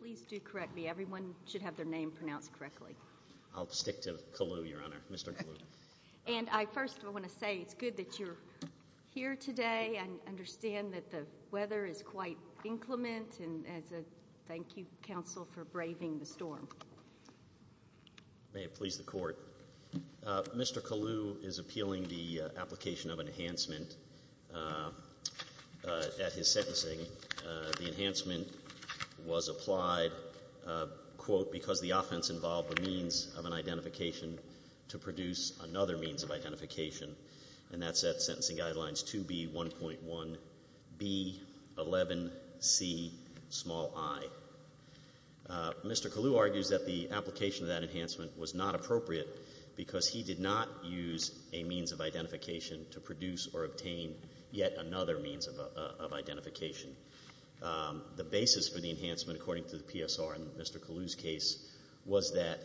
Please do correct me. Everyone should have their name pronounced correctly. I'll stick to Kalu, Your Honor. Mr. Kalu. And I first want to say it's good that you're here today. I understand that the weather is quite inclement. And thank you, counsel, for braving the storm. May it please the Court. Mr. Kalu is appealing the application of enhancement at his sentencing. The enhancement was applied, quote, because the offense involved the means of an identification to produce another means of identification. And that's at Sentencing Guidelines 2B1.1B11Ci. Mr. Kalu argues that the application of that enhancement was not appropriate because he did not use a means of identification to produce or obtain yet another means of identification. The basis for the enhancement, according to the PSR in Mr. Kalu's case, was that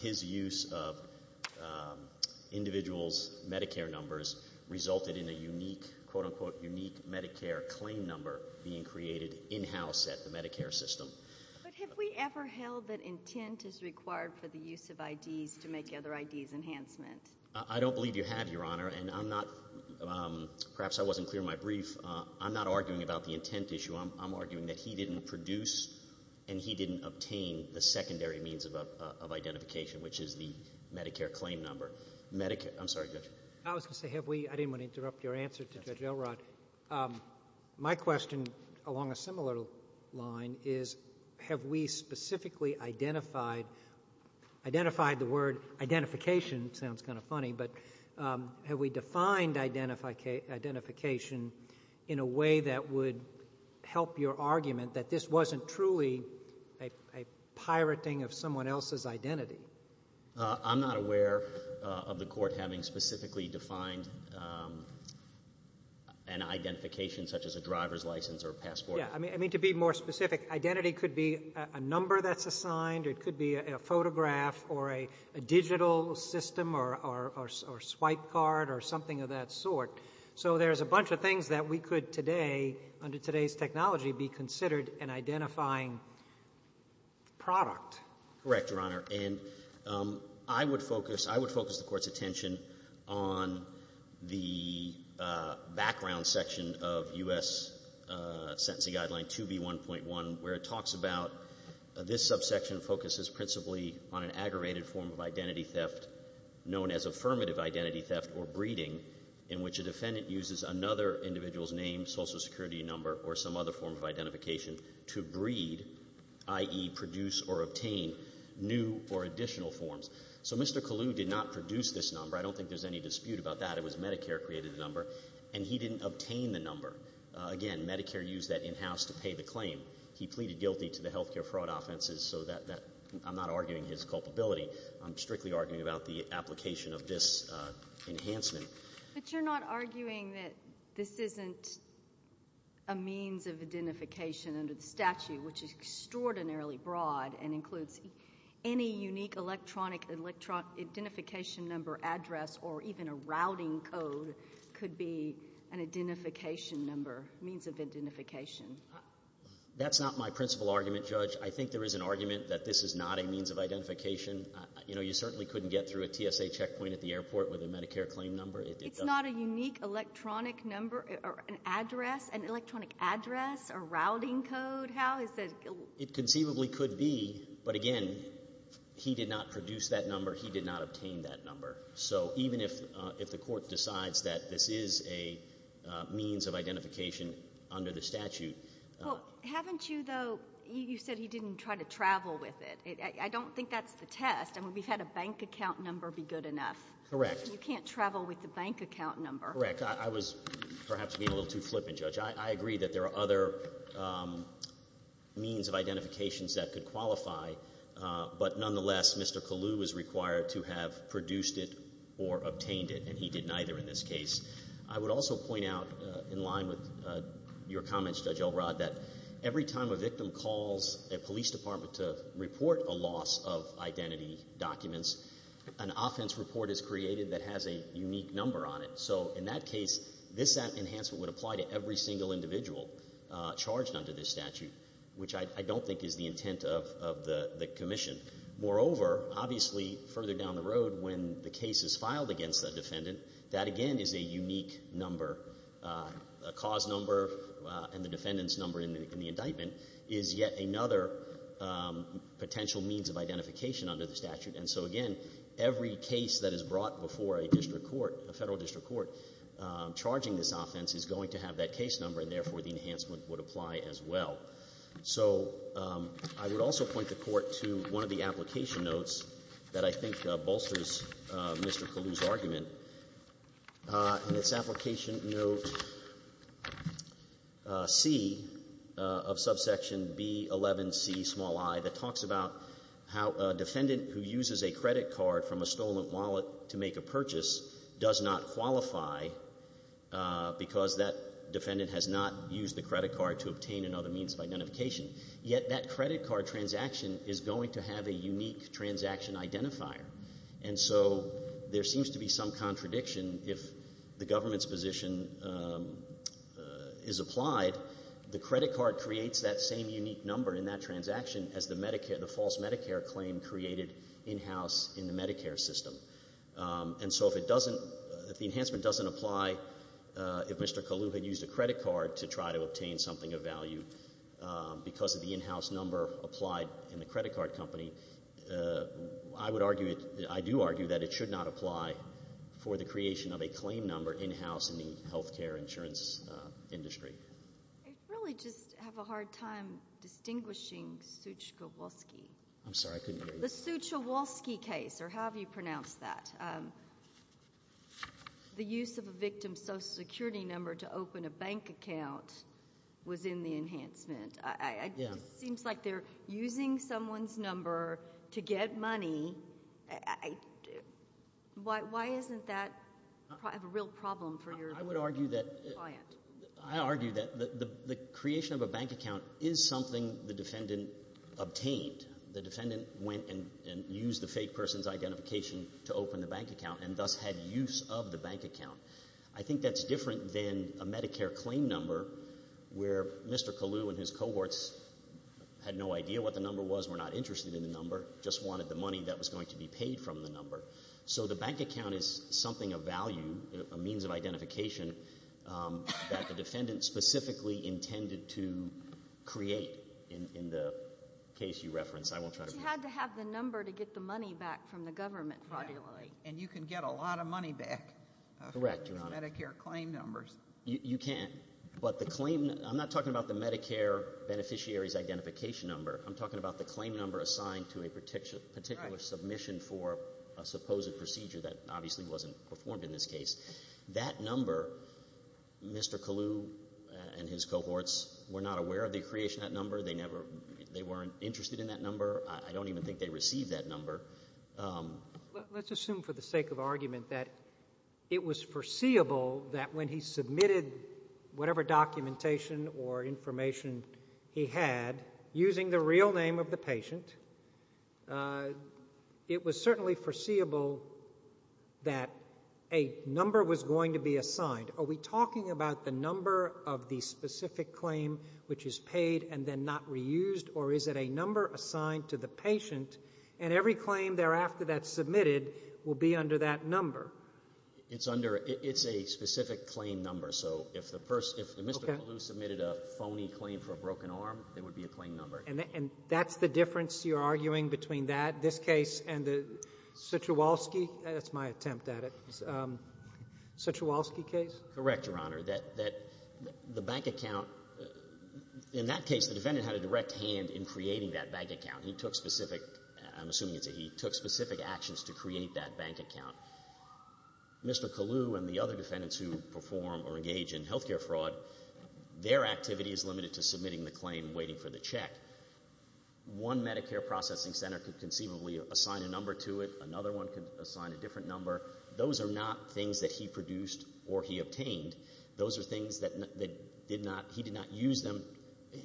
his use of individuals' Medicare numbers resulted in a unique, quote, unquote, unique Medicare claim number being created in-house at the Medicare system. But have we ever held that intent is required for the use of IDs to make other IDs enhancement? I don't believe you have, Your Honor. And I'm not – perhaps I wasn't clear in my brief. I'm not arguing about the intent issue. I'm arguing that he didn't produce and he didn't obtain the secondary means of identification, which is the Medicare claim number. Medicare – I'm sorry, Judge. I was going to say, have we – I didn't want to interrupt your answer to Judge Elrod. My question, along a similar line, is have we specifically identified – identified the word identification, sounds kind of funny, but have we defined identification in a way that would help your argument that this wasn't truly a pirating of someone else's identity? I'm not aware of the Court having specifically defined an identification, such as a driver's license or a passport. Yeah. I mean, to be more specific, identity could be a number that's assigned or it could be a photograph or a digital system or swipe card or something of that sort. So there's a bunch of things that we could today, under today's technology, be considered an identifying product. Correct, Your Honor. And I would focus – I would focus the Court's attention on the background section of U.S. Sentencing Guideline 2B1.1, where it talks about this subsection focuses principally on an aggravated form of identity theft known as affirmative identity theft or breeding in which a defendant uses another individual's name, social security number, or some other form of identification to breed, i.e., produce or obtain new or additional forms. So Mr. Kalu did not produce this number. I don't think there's any dispute about that. It was Medicare created the number, and he didn't obtain the number. Again, Medicare used that in-house to pay the claim. He pleaded guilty to the health care fraud offenses, so I'm not arguing his culpability. I'm strictly arguing about the application of this enhancement. But you're not arguing that this isn't a means of identification under the statute, which is extraordinarily broad and includes any unique electronic identification number address or even a routing code could be an identification number, means of identification. That's not my principal argument, Judge. I think there is an argument that this is not a means of identification. You know, you certainly couldn't get through a TSA checkpoint at the airport with a Medicare claim number. It does not. It's not a unique electronic number or an address, an electronic address or routing code? How is that? It conceivably could be, but again, he did not produce that number. He did not obtain that number. So even if the court decides that this is a means of identification under the statute. Well, haven't you, though, you said he didn't try to travel with it. I don't think that's the test. I mean, we've had a bank account number be good enough. Correct. You can't travel with the bank account number. Correct. I was perhaps being a little too flippant, Judge. I agree that there are other means of identifications that could qualify, but nonetheless, Mr. Kalu was required to have produced it or obtained it, and he did neither in this case. I would also point out in line with your comments, Judge Elrod, that every time a victim calls a police department to report a loss of identity documents, an offense report is created that has a unique number on it. So in that case, this enhancement would apply to every single individual charged under this statute, which I don't think is the intent of the commission. Moreover, obviously further down the road when the case is filed against a defendant, that, again, is a unique number. A cause number and the defendant's number in the indictment is yet another potential means of identification under the statute. And so, again, every case that is brought before a district court, a Federal district court, charging this offense is going to have that case number, and therefore the enhancement would apply as well. So I would also point the Court to one of the application notes that I think bolsters Mr. Kalu's argument. In its application note C of subsection B11Ci that talks about how a defendant who uses a credit card from a stolen wallet to make a purchase does not qualify because that defendant has not used the credit card to obtain another means of identification. Yet that credit card transaction is going to have a unique transaction identifier. And so there seems to be some contradiction. If the government's position is applied, the credit card creates that same unique number in that transaction as the false Medicare claim created in-house in the Medicare system. And so if it doesn't, if the enhancement doesn't apply, if Mr. Kalu had used a credit card to try to obtain something of value because of the in-house number applied in the credit card company, I would argue, I do argue that it should not apply for the creation of a claim number in-house in the health care insurance industry. I really just have a hard time distinguishing Suchkowolski. I'm sorry, I couldn't hear you. The Suchkowolski case, or however you pronounce that, the use of a victim's Social Security number to open a bank account was in the enhancement. It seems like they're using someone's number to get money. Why isn't that a real problem for your client? I would argue that the creation of a bank account is something the defendant obtained. The defendant went and used the fake person's identification to open the bank account and thus had use of the bank account. I think that's different than a Medicare claim number where Mr. Kalu and his cohorts had no idea what the number was, were not interested in the number, just wanted the money that was going to be paid from the number. So the bank account is something of value, a means of identification, that the defendant specifically intended to create in the case you reference. I won't try to be too specific. But you had to have the number to get the money back from the government, probably. And you can get a lot of money back from Medicare claim numbers. Correct, Your Honor. You can. But the claim — I'm not talking about the Medicare beneficiary's identification number. I'm talking about the claim number assigned to a particular submission for a supposed procedure that obviously wasn't performed in this case. That number, Mr. Kalu and his cohorts were not aware of the creation of that number. They weren't interested in that number. I don't even think they received that number. Let's assume for the sake of argument that it was foreseeable that when he submitted whatever documentation or information he had using the real name of the patient, it was certainly foreseeable that a number was going to be assigned. Are we talking about the number of the specific claim which is paid and then not reused? Or is it a number assigned to the patient, and every claim thereafter that's submitted will be under that number? It's under — it's a specific claim number. So if the person — if Mr. Kalu submitted a phony claim for a broken arm, it would be a claim number. And that's the difference you're arguing between that, this case, and the Suchewalski — that's my attempt at it — Suchewalski case? Correct, Your Honor. That — that the bank account — in that case, the defendant had a direct hand in creating that bank account. He took specific — I'm assuming you'd say he took specific actions to create that bank account. Mr. Kalu and the other defendants who perform or engage in health care fraud, their activity is limited to submitting the claim, waiting for the check. One Medicare processing center could conceivably assign a number to it. Another one could assign a different number. Those are not things that he produced or he obtained. Those are things that did not — he did not use them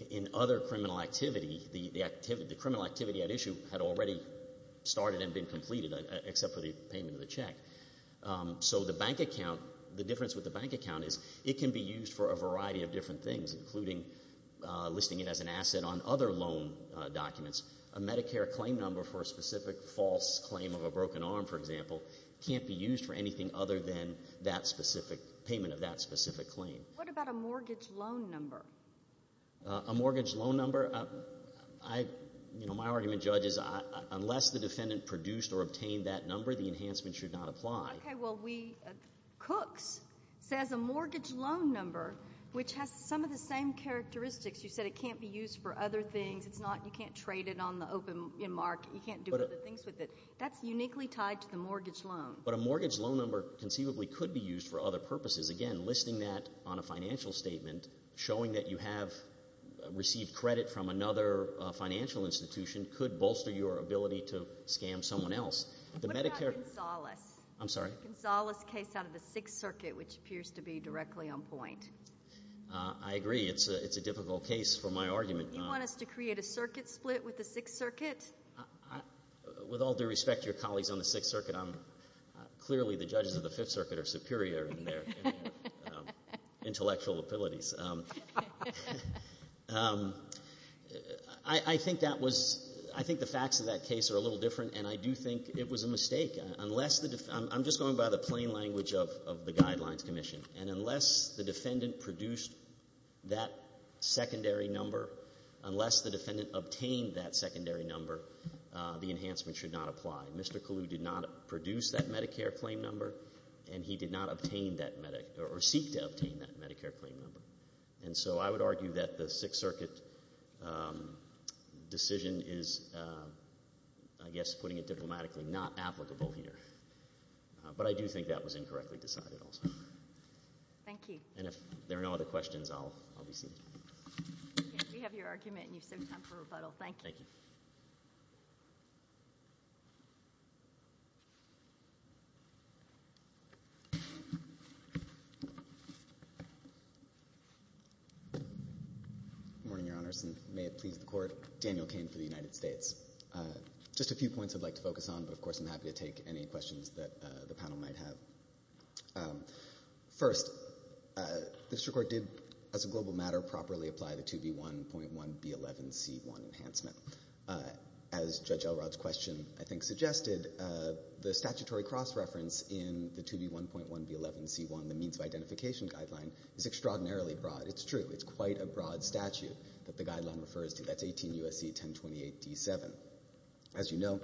in other criminal activity. The criminal activity at issue had already started and been completed, except for the payment of the check. So the bank account — the difference with the bank account is it can be used for a variety of different things, including listing it as an asset on other loan documents. A Medicare claim number for a specific false claim of a broken arm, for example, can't be used for anything other than that specific — payment of that specific claim. What about a mortgage loan number? A mortgage loan number? I — you know, my argument, Judge, is unless the defendant produced or obtained that number, the enhancement should not apply. Okay, well, we — Cooks says a mortgage loan number, which has some of the same characteristics. You said it can't be used for other things. It's not — you can't trade it on the open market. You can't do other things with it. That's uniquely tied to the mortgage loan. But a mortgage loan number conceivably could be used for other purposes. Again, listing that on a financial statement, showing that you have received credit from another financial institution, could bolster your ability to scam someone else. What about Gonzales? I'm sorry? Gonzales' case out of the Sixth Circuit, which appears to be directly on point. I agree. It's a difficult case for my argument. You want us to create a circuit split with the Sixth Circuit? With all due respect to your colleagues on the Sixth Circuit, I'm — clearly the judges of the Fifth Circuit are superior in their intellectual abilities. I think that was — I think the facts of that case are a little different, and I do think it was a mistake. Unless the — I'm just going by the plain language of the Guidelines Commission. And unless the defendant produced that secondary number, unless the defendant obtained that secondary number, the enhancement should not apply. Mr. Kalu did not produce that Medicare claim number, and he did not obtain that — or seek to obtain that Medicare claim number. And so I would argue that the Sixth Circuit decision is, I guess putting it diplomatically, not applicable here. But I do think that was incorrectly decided also. Thank you. And if there are no other questions, I'll be seated. We have your argument, and you've saved time for rebuttal. Thank you. Thank you. Good morning, Your Honors, and may it please the Court. Daniel Cain for the United States. Just a few points I'd like to focus on, but of course I'm happy to take any questions that the panel might have. First, the District Court did, as a global matter, properly apply the 2B1.1B11C1 enhancement. As Judge Elrod's question, I think, suggested, the statutory cross-reference in the 2B1.1B11C1, the means of identification guideline, is extraordinarily broad. It's true. It's quite a broad statute that the guideline refers to. That's 18 U.S.C. 1028 D7. As you know,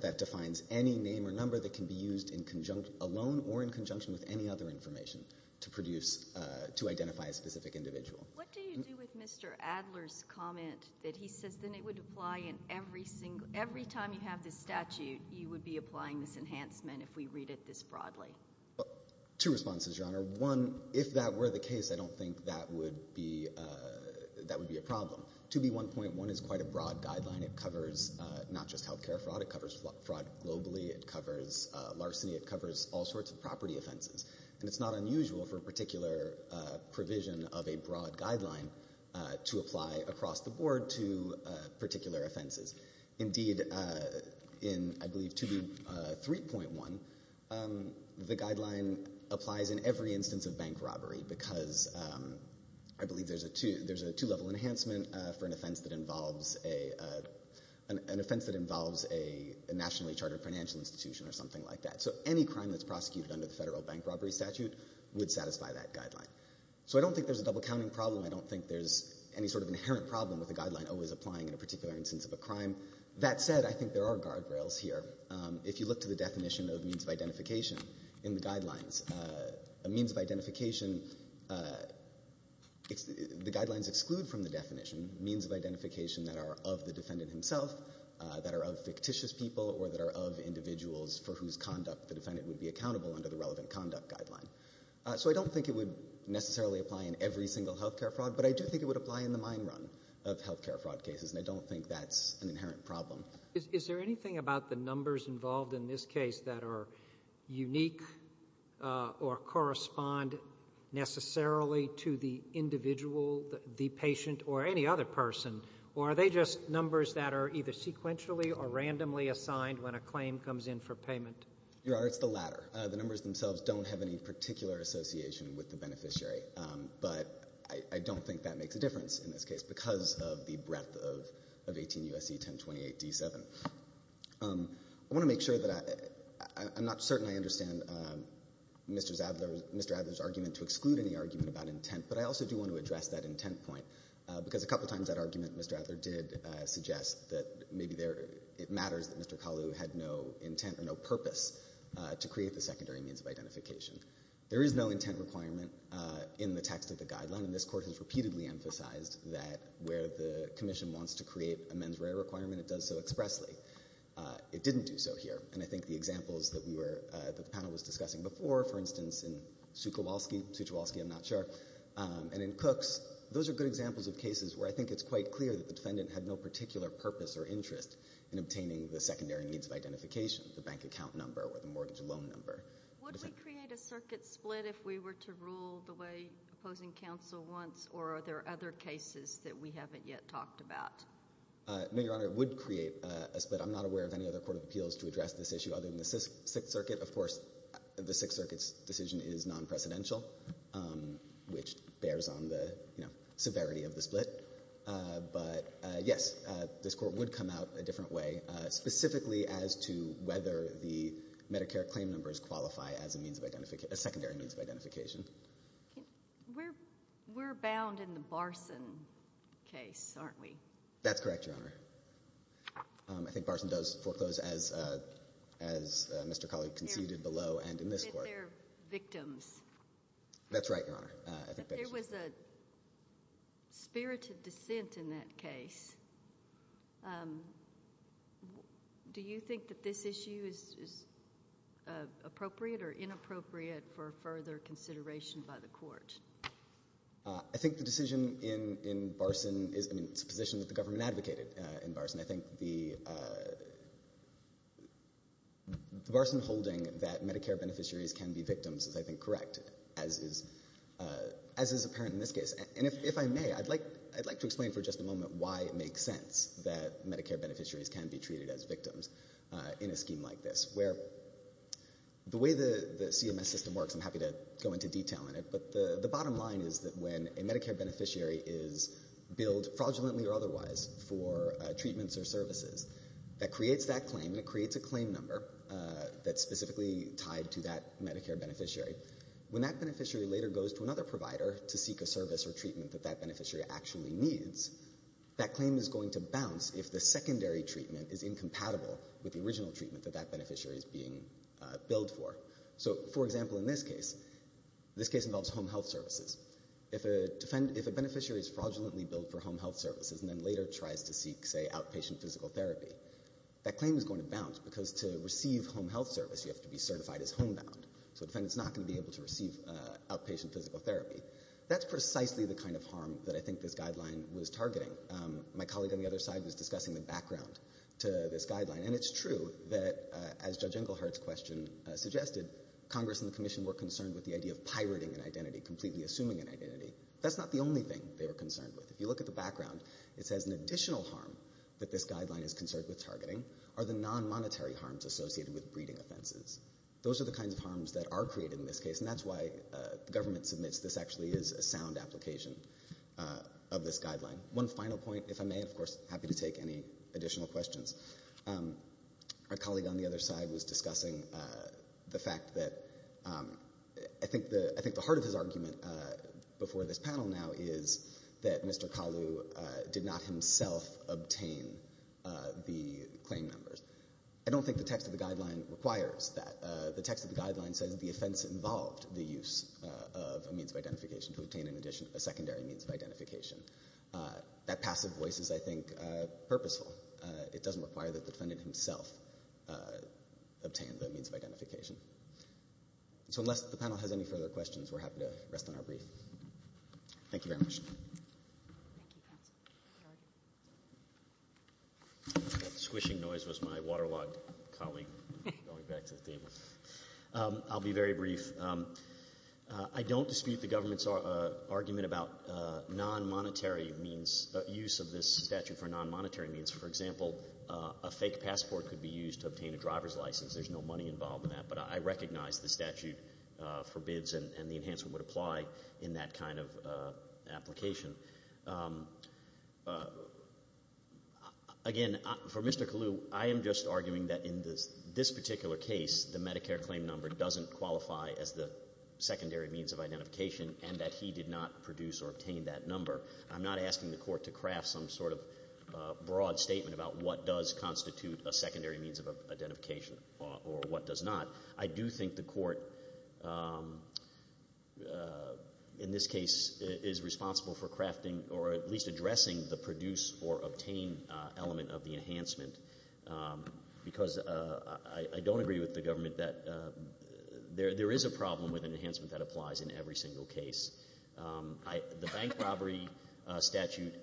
that defines any name or number that can be used in conjunction — alone or in conjunction with any other information to produce — to identify a specific individual. What do you do with Mr. Adler's comment that he says then it would apply in every single — every time you have this statute, you would be applying this enhancement if we read it this broadly? Two responses, Your Honor. One, if that were the case, I don't think that would be — that would be a problem. 2B1.1 is quite a broad guideline. It covers not just health care fraud. It covers fraud globally. It covers larceny. It covers all sorts of property offenses. And it's not unusual for a particular provision of a broad guideline to apply across the board to particular offenses. Indeed, in, I believe, 2B3.1, the guideline applies in every instance of bank robbery because I believe there's a two — there's a two-level enhancement for an offense that involves a — an offense that involves a nationally chartered financial institution or something like that. So any crime that's prosecuted under the Federal Bank Robbery Statute would satisfy that guideline. So I don't think there's a double-counting problem. I don't think there's any sort of inherent problem with a guideline always applying in a particular instance of a crime. That said, I think there are guardrails here. If you look to the definition of means of identification in the guidelines, a means of identification — the guidelines exclude from the definition means of identification that are of the defendant himself, that are of fictitious people, or that are of individuals for whose conduct the defendant would be accountable under the relevant conduct guideline. So I don't think it would necessarily apply in every single health care fraud, but I do think it would apply in the mine run of health care fraud cases, and I don't think that's an inherent problem. Is there anything about the numbers involved in this case that are unique or correspond necessarily to the individual, the patient, or any other person? Or are they just numbers that are either sequentially or randomly assigned when a claim comes in for payment? Your Honor, it's the latter. The numbers themselves don't have any particular association with the beneficiary, but I don't think that makes a difference in this case because of the breadth of 18 U.S.C. 1028-D7. I want to make sure that I'm not certain I understand Mr. Adler's argument to exclude any argument about intent, but I also do want to address that intent point, because a couple times that argument, Mr. Adler did suggest that maybe it matters that Mr. Kalu had no intent or no purpose to create the secondary means of identification. There is no intent requirement in the text of the guideline, and this Court has repeatedly emphasized that where the Commission wants to create a mens rea requirement, it does so expressly. It didn't do so here, and I think the examples that we were, that the panel was discussing before, for instance, in Suchowalski, Suchowalski, I'm not sure, and in Cooks, those are good examples of cases where I think it's quite clear that the defendant had no particular purpose or interest in obtaining the secondary means of identification, the bank account number or the mortgage loan number. Would we create a circuit split if we were to rule the way opposing counsel wants, or are there other cases that we haven't yet talked about? No, Your Honor, it would create a split. I'm not aware of any other court of appeals to address this issue other than the Sixth Circuit. Of course, the Sixth Circuit's decision is non-presidential, which bears on the severity of the split. But, yes, this Court would come out a different way, specifically as to whether the Medicare claim numbers qualify as a means of identification, a secondary means of identification. We're bound in the Barson case, aren't we? That's correct, Your Honor. I think Barson does foreclose, as Mr. Colley conceded below and in this Court. That's right, Your Honor. But there was a spirited dissent in that case. Do you think that this issue is appropriate or inappropriate for further consideration by the Court? I think the decision in Barson is a position that the government advocated in Barson. I think the Barson holding that Medicare beneficiaries can be victims is, I think, correct, as is apparent in this case. And if I may, I'd like to explain for just a moment why it makes sense that Medicare beneficiaries can be treated as victims in a scheme like this, where the way the CMS system works, I'm happy to go into detail on it, but the bottom line is that when a Medicare beneficiary is billed fraudulently or otherwise for treatments or services, that creates that claim and it creates a claim number that's specifically tied to that Medicare beneficiary. When that beneficiary later goes to another provider to seek a service or treatment that that beneficiary actually needs, that claim is going to bounce if the secondary treatment is incompatible with the original treatment that that beneficiary is being billed for. So, for example, in this case, this case involves home health services. If a beneficiary is fraudulently billed for home health services and then later tries to seek, say, outpatient physical therapy, that claim is going to bounce because to receive home health service, you have to be certified as homebound. So a defendant is not going to be able to receive outpatient physical therapy. That's precisely the kind of harm that I think this guideline was targeting. My colleague on the other side was discussing the background to this guideline, and it's true that, as Judge Englehart's question suggested, Congress and the Commission were concerned with the idea of pirating an identity, completely assuming an identity. That's not the only thing they were concerned with. If you look at the background, it says an additional harm that this guideline is concerned with targeting are the non-monetary harms associated with breeding offenses. Those are the kinds of harms that are created in this case, and that's why the government submits this actually is a sound application of this guideline. One final point, if I may, of course, happy to take any additional questions. Our colleague on the other side was discussing the fact that I think the heart of his argument before this panel now is that Mr. Kalu did not himself obtain the claim numbers. I don't think the text of the guideline requires that. The text of the guideline says the offense involved the use of a means of identification to obtain a secondary means of identification. That passive voice is, I think, purposeful. It doesn't require that the defendant himself obtain the means of identification. So unless the panel has any further questions, we're happy to rest on our brief. Thank you very much. Thank you, counsel. That squishing noise was my waterlogged colleague going back to the table. I'll be very brief. I don't dispute the government's argument about non-monetary means, use of this statute for non-monetary means. For example, a fake passport could be used to obtain a driver's license. There's no money involved in that, but I recognize the statute forbids and the enhancement would apply in that kind of application. Again, for Mr. Kalu, I am just arguing that in this particular case, the Medicare claim number doesn't qualify as the secondary means of identification and that he did not produce or obtain that number. I'm not asking the court to craft some sort of broad statement about what does constitute a secondary means of identification or what does not. I do think the court in this case is responsible for crafting or at least addressing the produce or obtain element of the enhancement because I don't agree with the government that there is a problem with an enhancement that applies in every single case. The bank robbery statute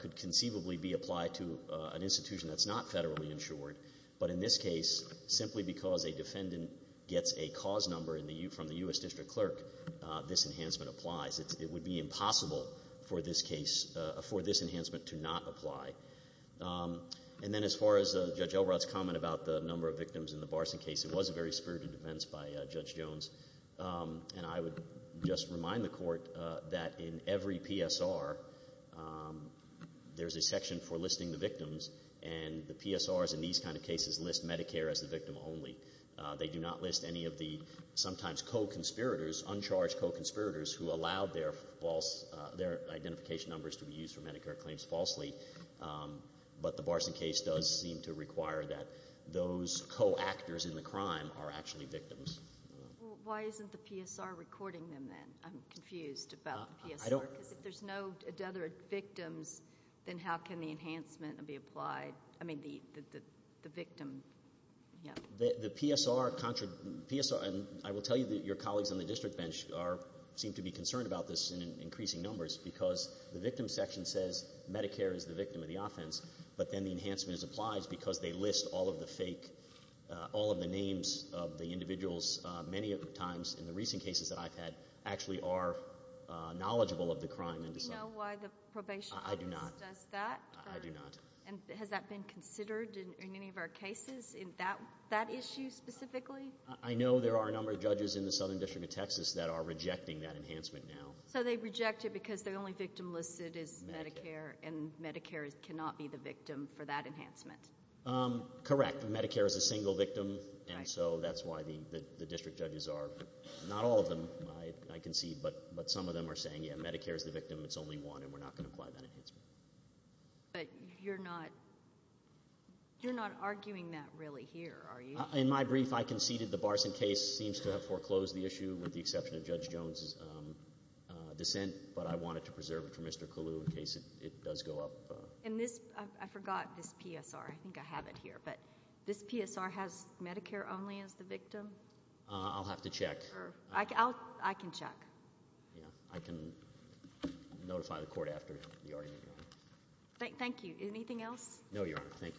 could conceivably be applied to an institution that's not federally insured, but in this case, simply because a defendant gets a cause number from the U.S. district clerk, this enhancement applies. It would be impossible for this case, for this enhancement to not apply. And then as far as Judge Elrod's comment about the number of victims in the Barson case, it was a very spirited defense by Judge Jones, and I would just remind the court that in every PSR, there's a section for listing the victims, and the PSRs in these kind of cases list Medicare as the victim only. They do not list any of the sometimes co-conspirators, uncharged co-conspirators who allowed their identification numbers to be used for Medicare claims falsely. But the Barson case does seem to require that those co-actors in the crime are actually victims. Why isn't the PSR recording them then? I'm confused about the PSR. Because if there's no other victims, then how can the enhancement be applied? I mean the victim. The PSR, and I will tell you that your colleagues on the district bench seem to be concerned about this in increasing numbers because the victim section says Medicare is the victim of the offense, but then the enhancement applies because they list all of the fake, all of the names of the individuals many times in the recent cases that I've had actually are knowledgeable of the crime. Do you know why the probation office does that? I do not. I do not. And has that been considered in any of our cases in that issue specifically? I know there are a number of judges in the Southern District of Texas that are rejecting that enhancement now. So they reject it because the only victim listed is Medicare, and Medicare cannot be the victim for that enhancement. Correct. Medicare is a single victim, and so that's why the district judges are. Not all of them, I concede, but some of them are saying, yeah, Medicare is the victim. It's only one, and we're not going to apply that enhancement. But you're not arguing that really here, are you? In my brief, I conceded the Barson case seems to have foreclosed the issue with the exception of Judge Jones' dissent, but I wanted to preserve it for Mr. Kalu in case it does go up. And this, I forgot this PSR. I think I have it here. But this PSR has Medicare only as the victim? I'll have to check. I can check. I can notify the court after the argument. Thank you. Anything else? No, Your Honor. Thank you.